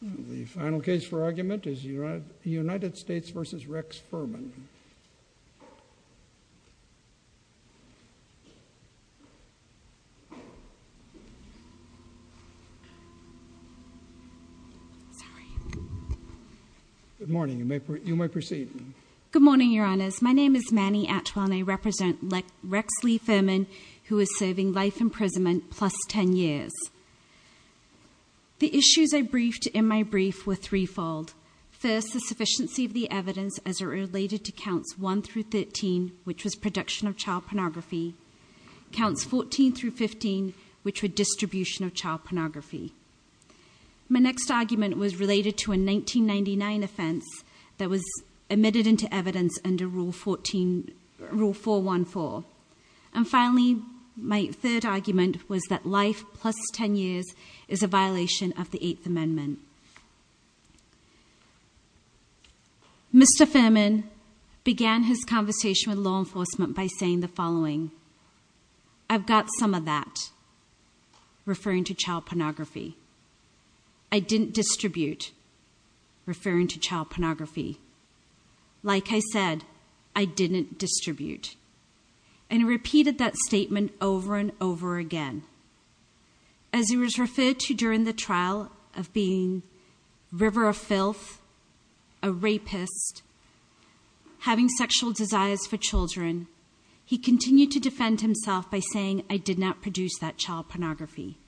The final case for argument is the United States v. Rex Furman Manny Atwell and I represent Rex Lee Furman who is serving life imprisonment plus 10 years. The issues I briefed in my brief were threefold. First, the sufficiency of the evidence as it related to counts 1-13 which was production of child pornography, counts 14-15 which were distribution of child pornography. My next argument was related to a 1999 offense that was admitted into evidence under Rule 414. And finally, my third argument was that Furman began his conversation with law enforcement by saying the following, I've got some of that, referring to child pornography. I didn't distribute, referring to child pornography. Like I said, I didn't distribute. And he repeated that statement over and over again. As he was referred to during the trial of being a river of filth, a rapist, having sexual desires for children, he continued to defend himself by saying I did not produce that child pornography.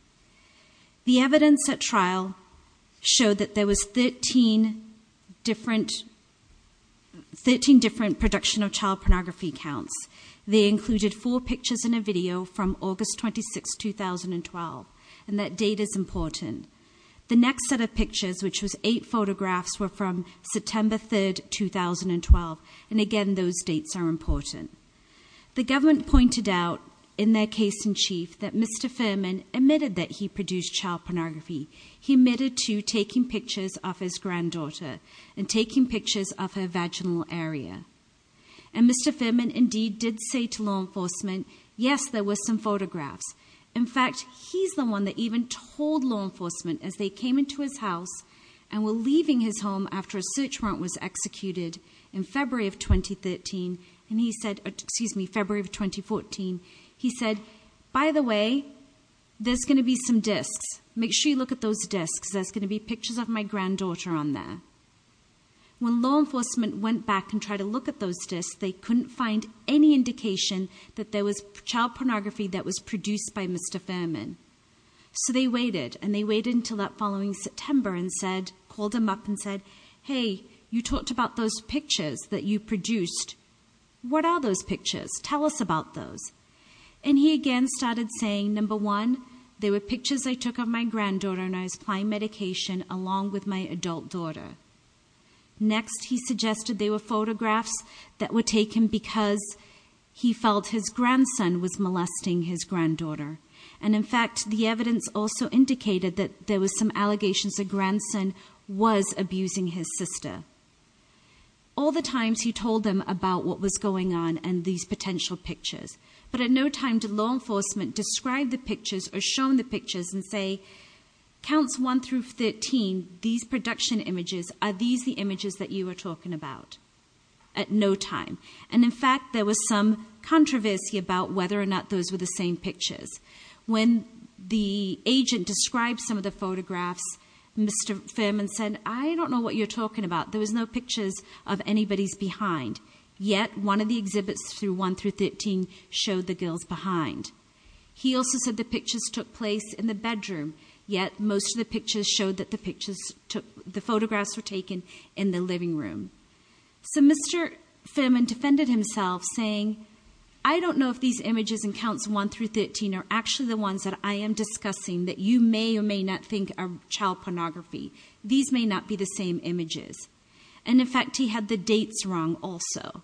The evidence at trial showed that there was 13 different production of and that date is important. The next set of pictures which was eight photographs were from September 3, 2012. And again, those dates are important. The government pointed out in their case in chief that Mr. Furman admitted that he produced child pornography. He admitted to taking pictures of his granddaughter and taking pictures of her vaginal area. And Mr. Furman, in fact, he's the one that even told law enforcement as they came into his house and were leaving his home after a search warrant was executed in February of 2013. And he said, excuse me, February of 2014, he said, by the way, there's going to be some disks. Make sure you look at those disks. There's going to be pictures of my granddaughter on there. When law enforcement went back and tried to look at those disks, they couldn't find any Mr. Furman. So they waited. And they waited until that following September and called him up and said, hey, you talked about those pictures that you produced. What are those pictures? Tell us about those. And he again started saying, number one, they were pictures I took of my granddaughter and I was applying medication along with my adult daughter. Next, he suggested they were photographs that were taken because he felt his grandson was molesting his granddaughter. And in fact, the evidence also indicated that there was some allegations the grandson was abusing his sister. All the times he told them about what was going on and these potential pictures. But at no time did law enforcement describe the pictures or show the pictures and say, counts 1 through 13, these production images, are these the images that you were talking about? At no time. And in fact, there was some controversy about whether or not those were the same pictures. When the agent described some of the photographs, Mr. Furman said, I don't know what you're talking about. There was no pictures of anybody's behind. Yet one of the exhibits through 1 through 13 showed the girls behind. He also said the pictures took place in the bedroom. Yet most of the pictures showed that the pictures took, the photographs were taken in the living room. So Mr. Furman defended himself saying, I don't know if these images in counts 1 through 13 are actually the ones that I am discussing that you may or may not think are child pornography. These may not be the same images. And in fact, he had the dates wrong also.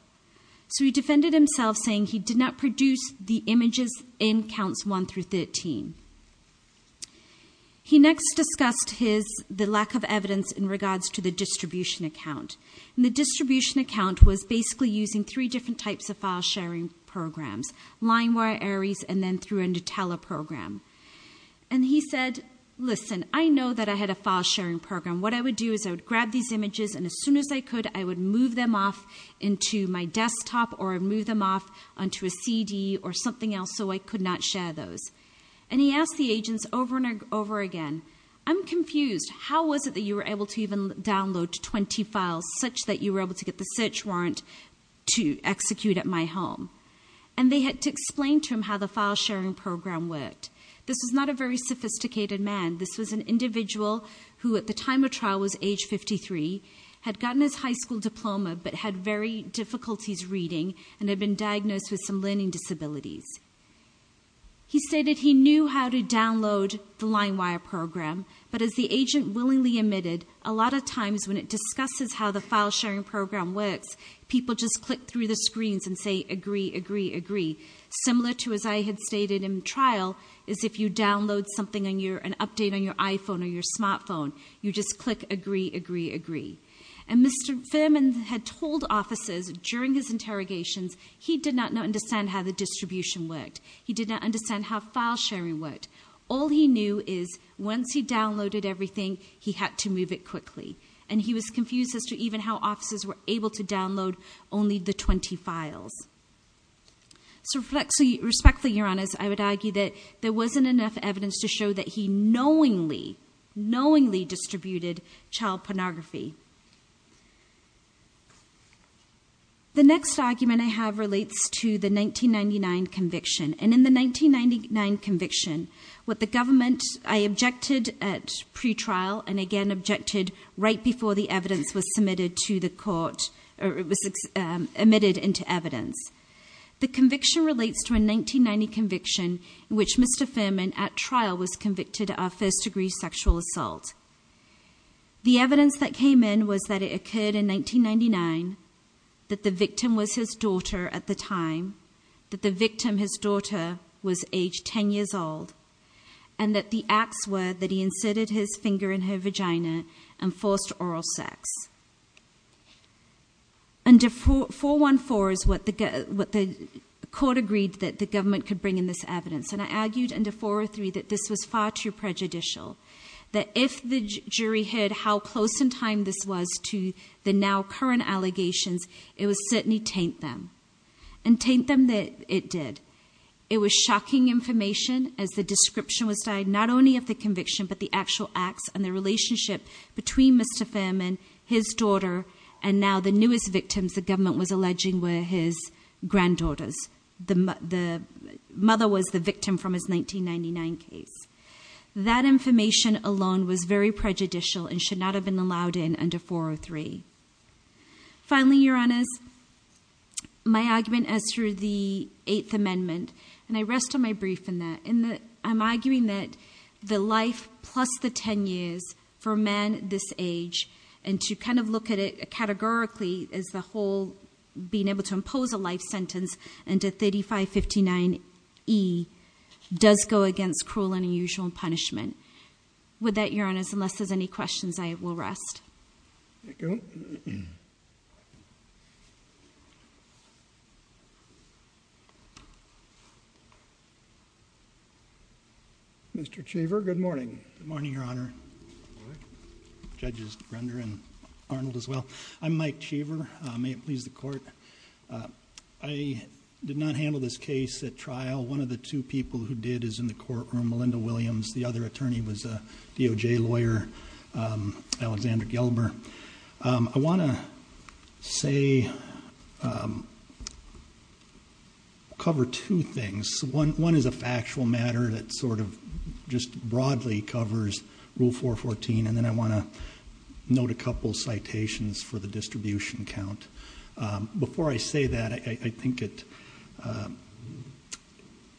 So he defended himself saying he did not produce the images in counts 1 through 13. He next discussed his, the lack of evidence in regards to the distribution account. And the distribution account was basically using three different types of file sharing programs, LineWire, Ares, and then through a Nutella program. And he said, listen, I know that I had a file sharing program. What I would do is I would grab these images and as soon as I could, I would move them off into my desktop or move them off onto a CD or something else so I could not share those. And he asked the agents over and over again, I'm confused. How was it that you were able to even download 20 files such that you were able to get the search warrant to execute at my home? And they had to explain to him how the file sharing program worked. This was not a very sophisticated man. This was an individual who at the time of trial was age 53, had gotten his high school diploma but had very difficulties reading and had been diagnosed with some learning disabilities. He stated he knew how to download the LineWire program, but as the agent willingly admitted, a lot of times when it discusses how the file sharing program works, people just click through the screens and say agree, agree, agree. Similar to as I had stated in trial is if you download something, an update on your iPhone or your smartphone, you just click agree, agree, agree. And Mr. Fuhrman had told officers during his interrogations he did not understand how the distribution worked. He did not understand how file sharing worked. All he knew is once he downloaded everything, he had to move it quickly. And he was confused as to even how officers were able to download only the 20 files. So respectfully, Your Honors, I would argue that there wasn't enough evidence to show that he knowingly, knowingly distributed child pornography. The next argument I have relates to the 1999 conviction. And in the 1999 conviction, what the government, I objected at pretrial and again objected right before the evidence was submitted to the court, or it was admitted into evidence. The conviction relates to a 1990 conviction in which Mr. Fuhrman at trial was convicted of first degree sexual assault. The evidence that came in was that it occurred in 1999 that the victim was his daughter at the time, that the victim, his daughter, was age 10 years old, and that the acts were that he inserted his finger in her vagina and forced oral sex. Under 414 is what the court agreed that the government could bring in this evidence. And I argued under 403 that this was far too late. If the jury heard how close in time this was to the now current allegations, it would certainly taint them. And taint them it did. It was shocking information as the description was died, not only of the conviction, but the actual acts and the relationship between Mr. Fuhrman, his daughter, and now the newest victims the government was alleging were his granddaughters. The mother was the victim from his 1999 case. That information alone was very prejudicial and should not have been allowed in under 403. Finally, Your Honors, my argument as to the Eighth Amendment, and I rest on my brief in that, in that I'm arguing that the life plus the 10 years for a man this age, and to kind of look at it categorically as the whole being able to impose a life sentence under 3559E does go against cruel and unusual punishment. With that, Your Honors, unless there's any questions, I will rest. Mr. Cheever, good morning. Good morning, Your Honor. Judges Grunder and Arnold as well. I'm Mike Cheever. May it please the court. I did not handle this case at trial. One of the two people who did is in the courtroom, Melinda Williams. The other attorney was a DOJ lawyer, Alexander Gelber. I want to say, cover two things. One is a factual matter that sort of just broadly covers Rule 414, and then I want to note a couple citations for the distribution count. Before I say that, I think it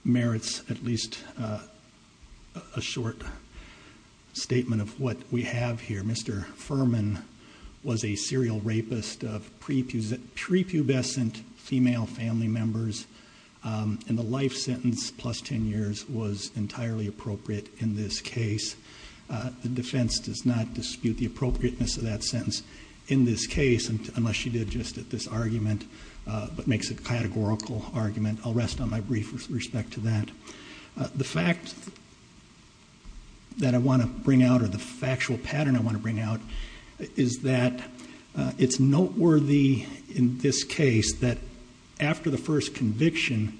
merits at least a short statement of what we have here. Mr. Furman was a serial rapist of prepubescent female family members, and the life sentence plus 10 years was entirely appropriate in this case. The defense does not dispute the appropriateness of that sentence in this case, unless she did just at this argument, but makes a categorical argument. I'll rest on my brief with respect to that. The fact that I want to bring out or the factual pattern I want to bring out is that it's noteworthy in this case that after the first conviction,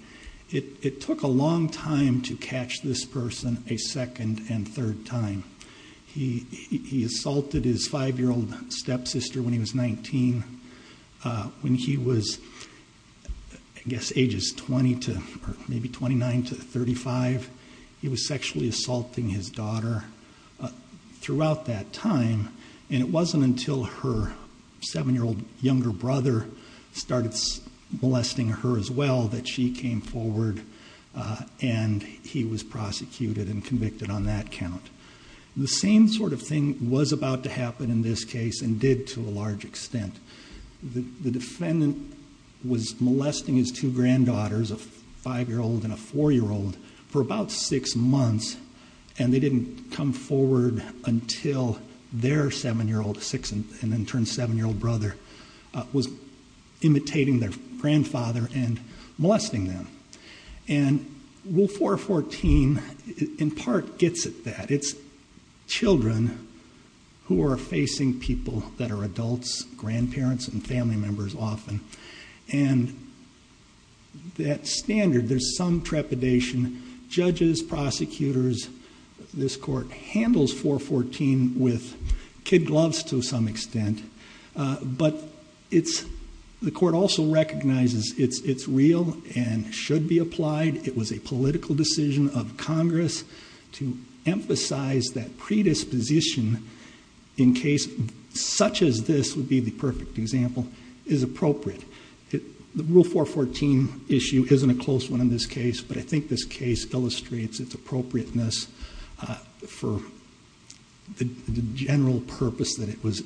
it took a long time to catch this person a second and third time. He assaulted his five-year-old stepsister when he was 19. When he was, I guess, ages 20 to maybe 29 to 35, he was sexually assaulting his daughter throughout that time, and it wasn't until her seven-year-old younger brother started molesting her as well that she came forward and he was prosecuted and did to a large extent. The defendant was molesting his two granddaughters, a five-year-old and a four-year-old, for about six months, and they didn't come forward until their seven-year-old sixth and then turned seven-year-old brother was imitating their grandfather and molesting them. And Rule 414 in part gets at that. It's children who are facing people who are adults, grandparents, and family members often. And that standard, there's some trepidation. Judges, prosecutors, this Court handles 414 with kid gloves to some extent, but the Court also recognizes it's real and should be applied. It was a political decision of Congress to make. Such as this would be the perfect example, is appropriate. The Rule 414 issue isn't a close one in this case, but I think this case illustrates its appropriateness for the general purpose that it was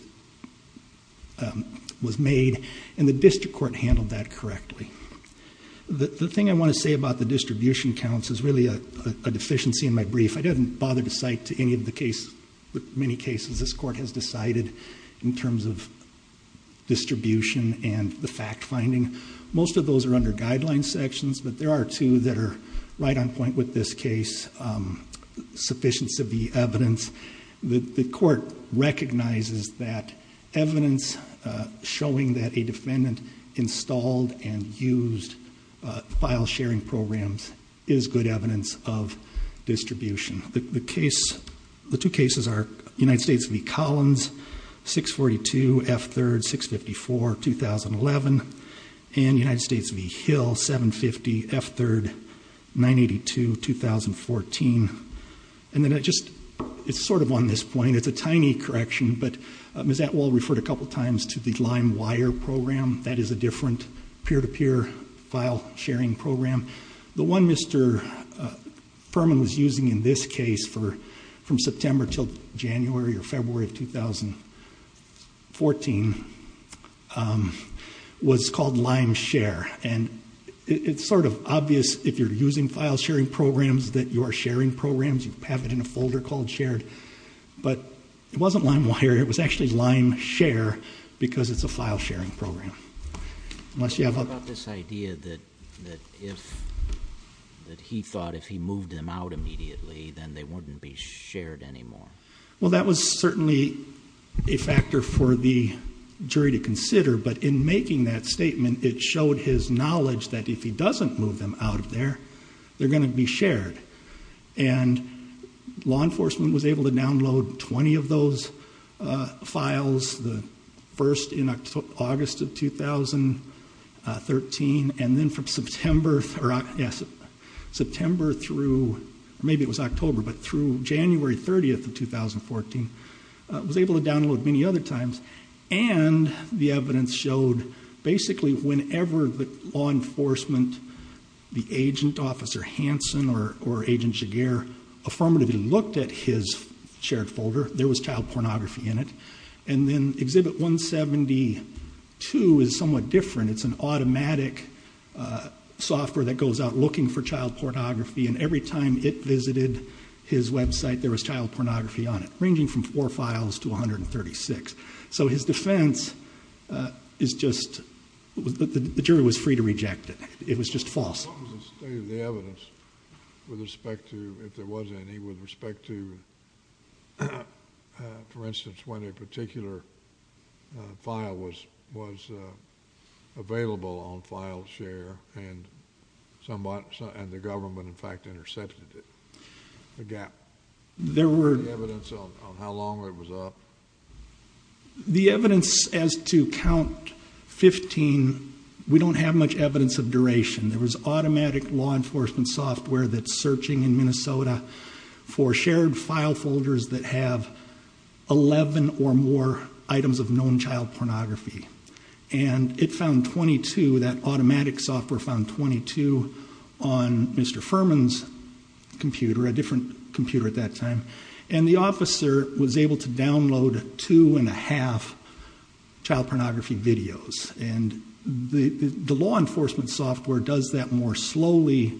made, and the District Court handled that correctly. The thing I want to say about the distribution counts is really a deficiency in my brief. I didn't bother to cite to any of the cases, many cases this Court has decided in terms of distribution and the fact-finding. Most of those are under Guidelines sections, but there are two that are right on point with this case. Sufficiency of the evidence. The Court recognizes that evidence showing that a defendant installed and used file-sharing programs is good evidence of distribution. The two cases are United States v. Collins, 642, F-3rd, 654, 2011, and United States v. Hill, 750, F-3rd, 982, 2014. It's sort of on this point, it's a tiny correction, but Ms. Atwell referred a couple times to the Lime Wire Program. That is a different peer-to-peer file-sharing program. The one Mr. Furman was using in this case from September to January or February of 2014 was called Lime Share, and it's sort of obvious if you're using file-sharing programs that you are sharing programs. You have it in a folder called Shared, but it wasn't Lime Wire, it was actually Lime Share because it's a file-sharing program unless you have other... What about this idea that if, that he thought if he moved them out immediately then they wouldn't be shared anymore? Well that was certainly a factor for the jury to consider, but in making that statement it showed his knowledge that if he doesn't move them out of there, they're going to be shared. And law enforcement was able to download 20 of those files, the first in August of 2013, and then from September through, or maybe it was October, but through January 30th of 2014, was able to download many other times. And the evidence showed basically whenever the law enforcement, the agent officer, Hanson or Agent Jaguar, affirmatively looked at his shared folder, there was child pornography in it. And then Exhibit 172 is somewhat different. It's an automatic software that goes out looking for child pornography, and every time it visited his website there was child pornography on it, ranging from four files to 136. So his defense is just, the jury was free to reject it. It was just false. What was the state of the evidence with respect to, if there was any, with respect to, for instance, when a particular file was available on FileShare and the government in fact intercepted it, the gap? There were... Any evidence on how long it was up? The evidence as to count 15, we don't have much evidence of duration. There was automatic law enforcement software that's searching in Minnesota for shared file folders that have 11 or more items of known child pornography. And it found 22, that automatic software found 22 on Mr. Furman's computer, a different computer at that time. And the officer was able to download two and a half child pornography videos. And the law enforcement software does that more slowly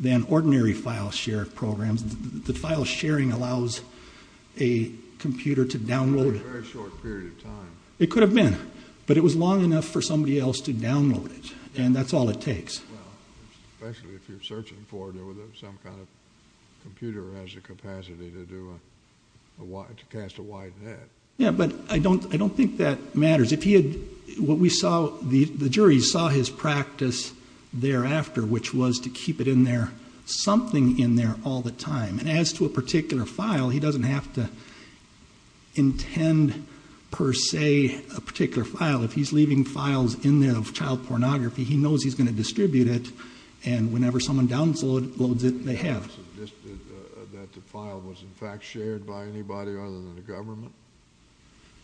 than ordinary FileShare programs. The FileSharing allows a computer to download... For a very short period of time. It could have been, but it was long enough for somebody else to download it, and that's all it takes. Well, especially if you're searching for it, some kind of computer has the capacity to cast a wide net. Yeah, but I don't think that matters. If he had... What we saw, the jury saw his practice thereafter, which was to keep it in there, something in there all the time. And as to a particular file, he doesn't have to intend, per se, a particular file. If he's leaving files in there of child pornography, he knows he's going to distribute it, and whenever someone downloads it, they have it. Do you suggest that the file was, in fact, shared by anybody other than the government?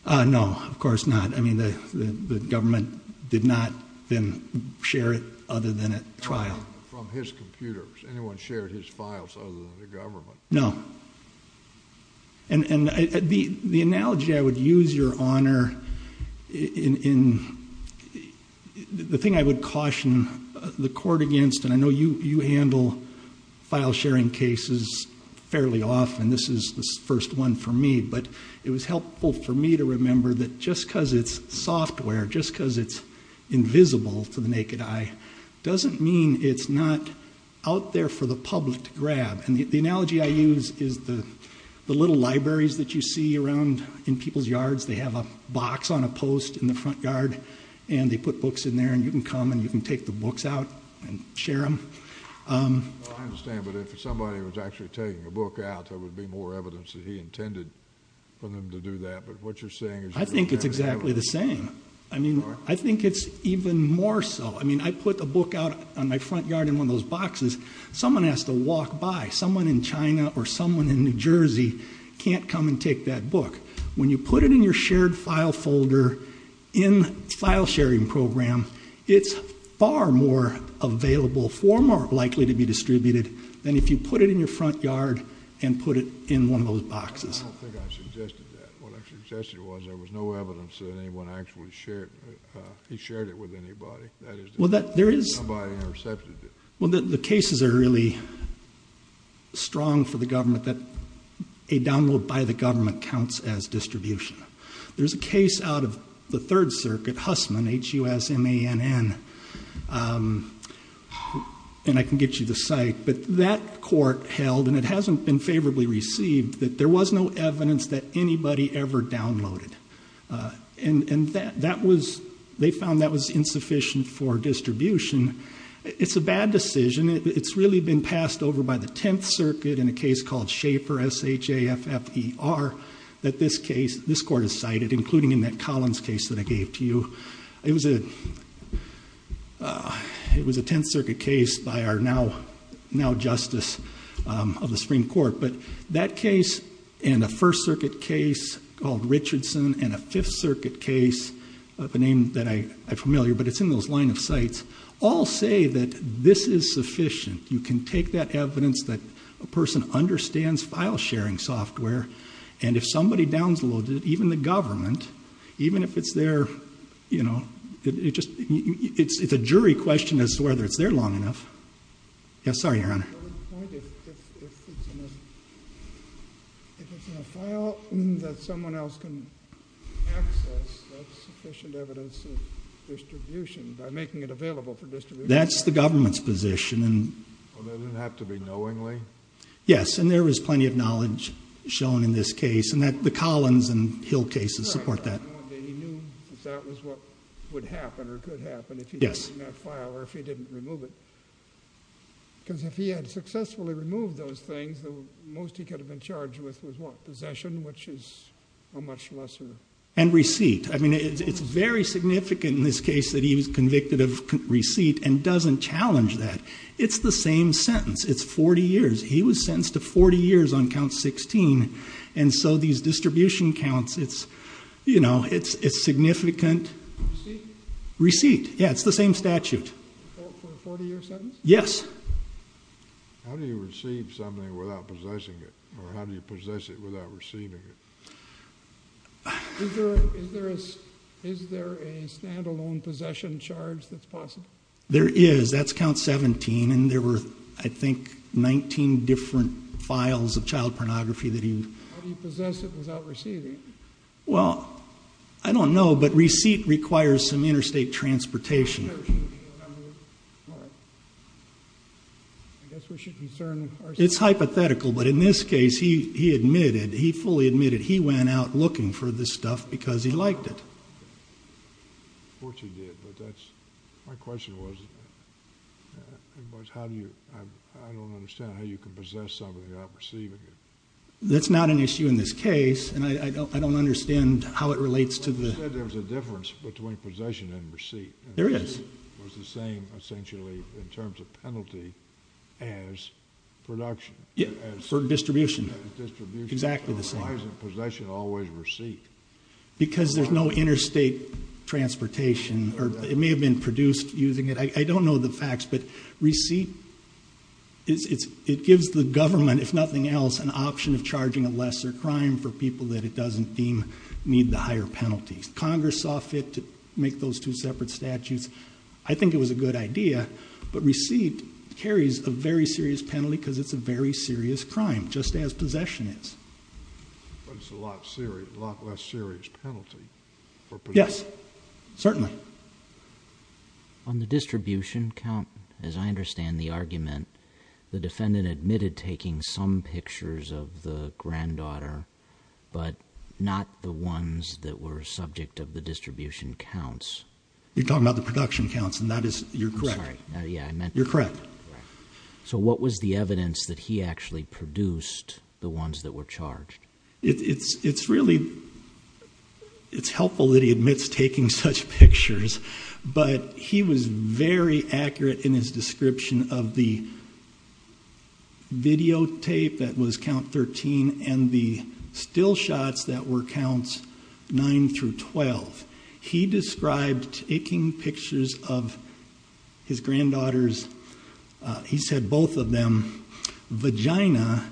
No, of course not. I mean, the government did not then share it other than at trial. From his computers. Anyone shared his files other than the government. No. And the analogy I would use, Your Honor, in... The thing I would caution the court against, and I know you handle file-sharing cases fairly often, this is the first one for me, but it was helpful for me to remember that just because it's software, just because it's invisible to the naked eye, doesn't mean it's not out there for the public to grab. And the analogy I use is the little libraries that you see around in people's yards. They have a box on a post in the front yard, and they put books in there, and you can come in, you can take the books out and share them. I understand, but if somebody was actually taking a book out, there would be more evidence that he intended for them to do that, but what you're saying is... I think it's exactly the same. I mean, I think it's even more so. I mean, I put the book out on my front yard in one of those boxes. Someone has to walk by. Someone in China or someone in New Jersey can't come and take that book. When you put it in your shared file folder in file sharing program, it's far more available, far more likely to be distributed than if you put it in your front yard and put it in one of those boxes. I don't think I suggested that. What I suggested was there was no evidence that anyone actually shared, he shared it with anybody. That is to say, nobody intercepted it. Well, the cases are really strong for the government that a download by the government counts as distribution. There's a case out of the Third Circuit, Hussman, H-U-S-M-A-N-N, and I can get you the site, but that court held, and it hasn't been favorably received, that there was no evidence that anybody ever downloaded. And that was, they found that was insufficient for distribution. It's a bad decision. It's really been passed over by the Tenth Circuit in a case called Shaper, S-H-A-F-F-E-R, that this case, this court has cited, including in that Collins case that I gave to you. It was a Tenth Circuit case by our now Justice of the Supreme Court, but that case and a First Circuit case called Richardson and a Fifth Circuit case of a name that I'm familiar, but it's in those line of sites, all say that this is sufficient. You can take that evidence that a person understands file sharing software, and if somebody downloads it, even the government, even if it's there, you know, it just, it's a jury question as to whether it's there long enough. Yes, sorry, Your Honor. If it's in a file that someone else can access, that's sufficient evidence of distribution by making it available for distribution. That's the government's position. Well, doesn't it have to be knowingly? Yes, and there is plenty of knowledge shown in this case, and the Collins and Hill cases support that. He knew that that was what would happen or could happen if he didn't remove that file or if he didn't remove it. Because if he had successfully removed those things, the most he could have been charged with was what? Possession, which is a much lesser... And receipt. I mean, it's very significant in this case that he was convicted of receipt and doesn't challenge that. It's the same sentence. It's 40 years. He was sentenced to 40 years on count 16, and so these distribution counts, it's, you know, it's significant. Receipt? Receipt. Yeah, it's the same statute. For a 40-year sentence? Yes. How do you receive something without possessing it, or how do you possess it without receiving it? Is there a stand-alone possession charge that's possible? There is. That's count 17, and there were, I think, 19 different files of child pornography that he... How do you possess it without receiving it? Well, I don't know, but receipt requires some interstate transportation. All right. I guess we should concern ourselves... It's hypothetical, but in this case, he admitted, he fully admitted he went out looking for this stuff because he liked it. Of course he did, but that's... My question was, how do you... I don't understand how you can possess something without receiving it. That's not an issue in this case, and I don't understand how it relates to the... You said there was a difference between possession and receipt. There is. It was the same, essentially, in terms of penalty as production. Yeah, for distribution. Distribution. Exactly the same. Why isn't possession always receipt? Because there's no interstate transportation, or it may have been produced using it. I don't know the facts, but receipt, it gives the government, if nothing else, an option of charging a lesser crime for people that it doesn't deem need the higher penalties. Congress saw fit to make those two separate statutes. I think it was a good idea, but receipt carries a very serious penalty because it's a very serious crime, just as possession is. But it's a lot less serious penalty for possession. Yes, certainly. On the distribution count, as I understand the argument, the defendant admitted taking some pictures of the granddaughter, but not the ones that were subject of the distribution counts. You're talking about the production counts, and that is... You're correct. Sorry. Yeah, I meant... You're correct. So what was the evidence that he actually produced the ones that were charged? It's helpful that he admits taking such pictures, but he was very accurate in his description of the videotape that was count 13 and the still shots that were counts 9 through 12. He described taking pictures of his granddaughter's, he said both of them, vagina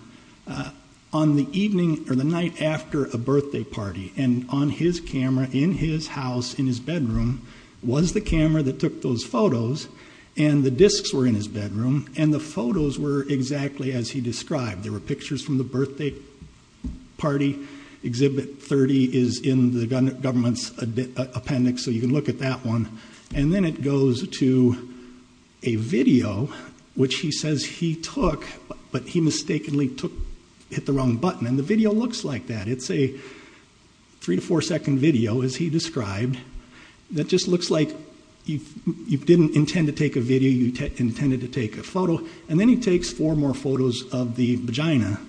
on the evening or the night after a birthday party, and on his camera in his house in his bedroom was the camera that took those photos, and the discs were in his bedroom, and the photos were exactly as he described. There were pictures from the birthday party. Exhibit 30 is in the government's appendix, so you can look at that one. And then it goes to a video, which he says he took, but he mistakenly hit the wrong button. And the video looks like that. It's a three to four second video, as he described, that just looks like you didn't intend to take a video. You intended to take a photo. And then he takes four more photos of the vagina.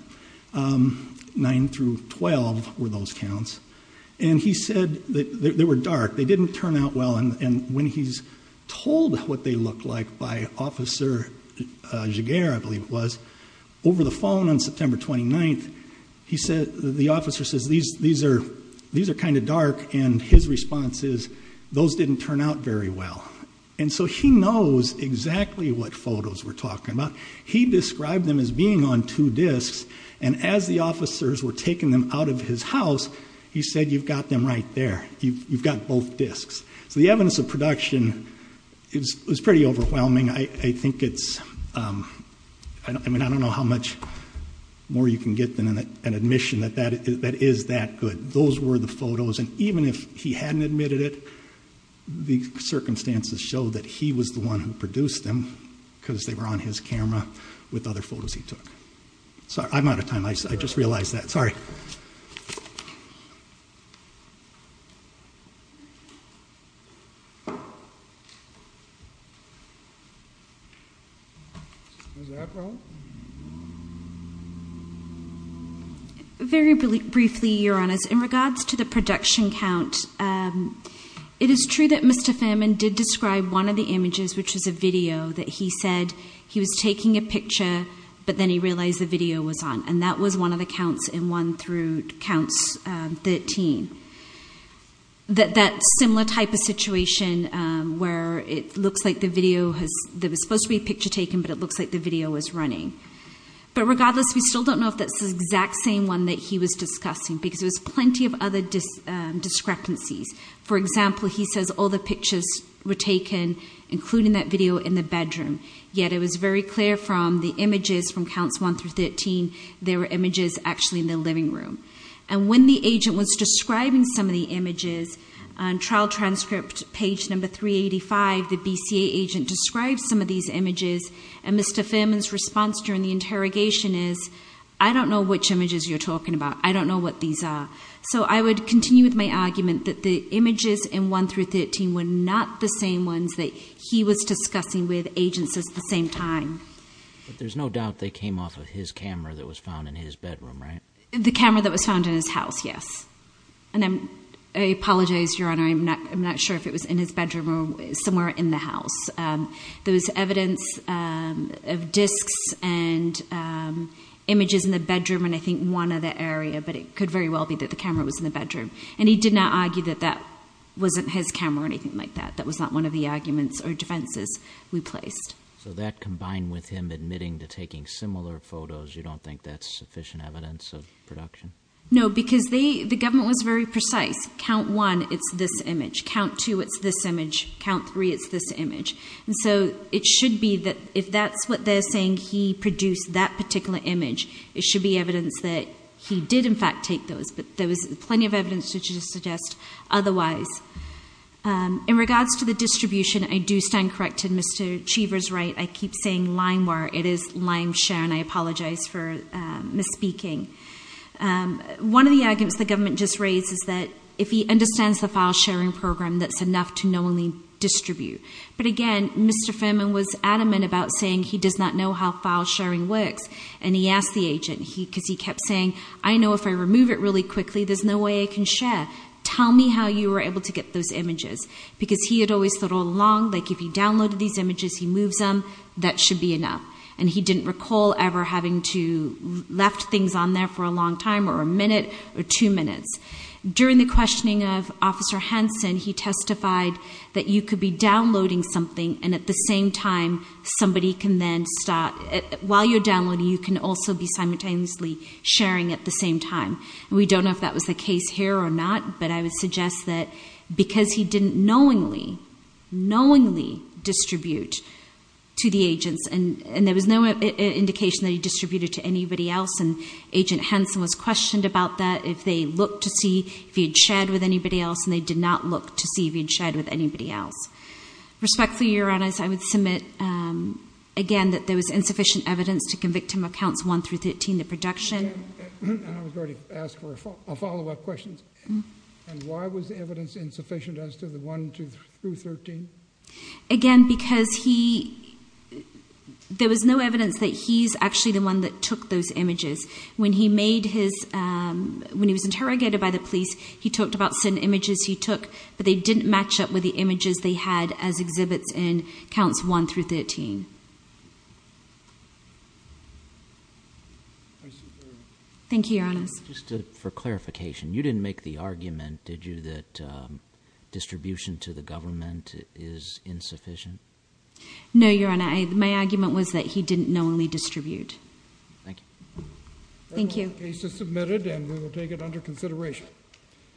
Nine through 12 were those counts. And he said that they were dark. They didn't turn out well. And when he's told what they looked like by Officer Jaguer, I believe it was, over the phone on September 29th, the officer says, these are kind of dark. And his response is, those didn't turn out very well. And so he knows exactly what photos we're talking about. He described them as being on two discs, and as the officers were taking them out of his house, he said, you've got them right there. You've got both discs. So the evidence of production is pretty overwhelming. I think it's, I mean, I don't know how much more you can get than an admission that that is that good. Those were the photos. And even if he hadn't admitted it, the circumstances show that he was the one who produced them, because they were on his camera with other photos he took. I'm out of time. I just realized that. Sorry. Was that wrong? Very briefly, Your Honors, in regards to the production count, it is true that Mr. Famin did describe one of the images, which was a video, that he said he was taking a picture, but then he realized the video was on. And that was one of the counts, and one through counts 13. That similar type of situation where it looks like the video was supposed to be a picture taken, but it looks like the video was running. But regardless, we still don't know if that's the exact same one that he was discussing, because there was plenty of other discrepancies. For example, he says all the pictures were taken, including that video, in the bedroom, yet it was very clear from the images from counts 1 through 13, there were images actually in the living room. And when the agent was describing some of the images on trial transcript page number 385, the BCA agent described some of these images, and Mr. Famin's response during the interrogation is, I don't know which images you're talking about. I don't know what these are. So I would continue with my argument that the images in 1 through 13 were not the same ones that he was discussing with agents at the same time. But there's no doubt they came off of his camera that was found in his bedroom, right? The camera that was found in his house, yes. And I apologize, Your Honor, I'm not sure if it was in his bedroom or somewhere in the house. There was evidence of discs and images in the bedroom and I think one other area, but it could very well be that the camera was in the bedroom. And he did not argue that that wasn't his camera or anything like that. That was not one of the arguments or defenses we placed. So that combined with him admitting to taking similar photos, you don't think that's sufficient evidence of production? No, because the government was very precise. Count one, it's this image. Count two, it's this image. Count three, it's this image. And so it should be that if that's what they're saying, he produced that particular image, it should be evidence that he did, in fact, take those. But there was plenty of evidence to suggest otherwise. In regards to the distribution, I do stand corrected. Mr. Cheever's right. I keep saying limewire. It is limeshare, and I apologize for misspeaking. One of the arguments the government just raised is that if he understands the file sharing program, that's enough to knowingly distribute. But, again, Mr. Ferman was adamant about saying he does not know how file sharing works, and he asked the agent, because he kept saying, I know if I remove it really quickly, there's no way I can share. Tell me how you were able to get those images, because he had always thought all along, like if he downloaded these images, he moves them, that should be enough. And he didn't recall ever having to left things on there for a long time or a minute or two minutes. During the questioning of Officer Hanson, he testified that you could be downloading something, and at the same time, somebody can then start. While you're downloading, you can also be simultaneously sharing at the same time. We don't know if that was the case here or not, but I would suggest that because he didn't knowingly, knowingly distribute to the agents, and there was no indication that he distributed to anybody else, and Agent Hanson was questioned about that, if they looked to see if he had shared with anybody else, and they did not look to see if he had shared with anybody else. Respectfully, Your Honors, I would submit, again, that there was insufficient evidence to convict him of counts 1 through 13, the production. I was going to ask a follow-up question. Why was the evidence insufficient as to the 1 through 13? Again, because there was no evidence that he's actually the one that took those images. When he was interrogated by the police, he talked about certain images he took, but they didn't match up with the images they had as exhibits in counts 1 through 13. Thank you, Your Honors. Just for clarification, you didn't make the argument, did you, that distribution to the government is insufficient? No, Your Honor. My argument was that he didn't knowingly distribute. Thank you. Thank you. The case is submitted, and we will take it under consideration.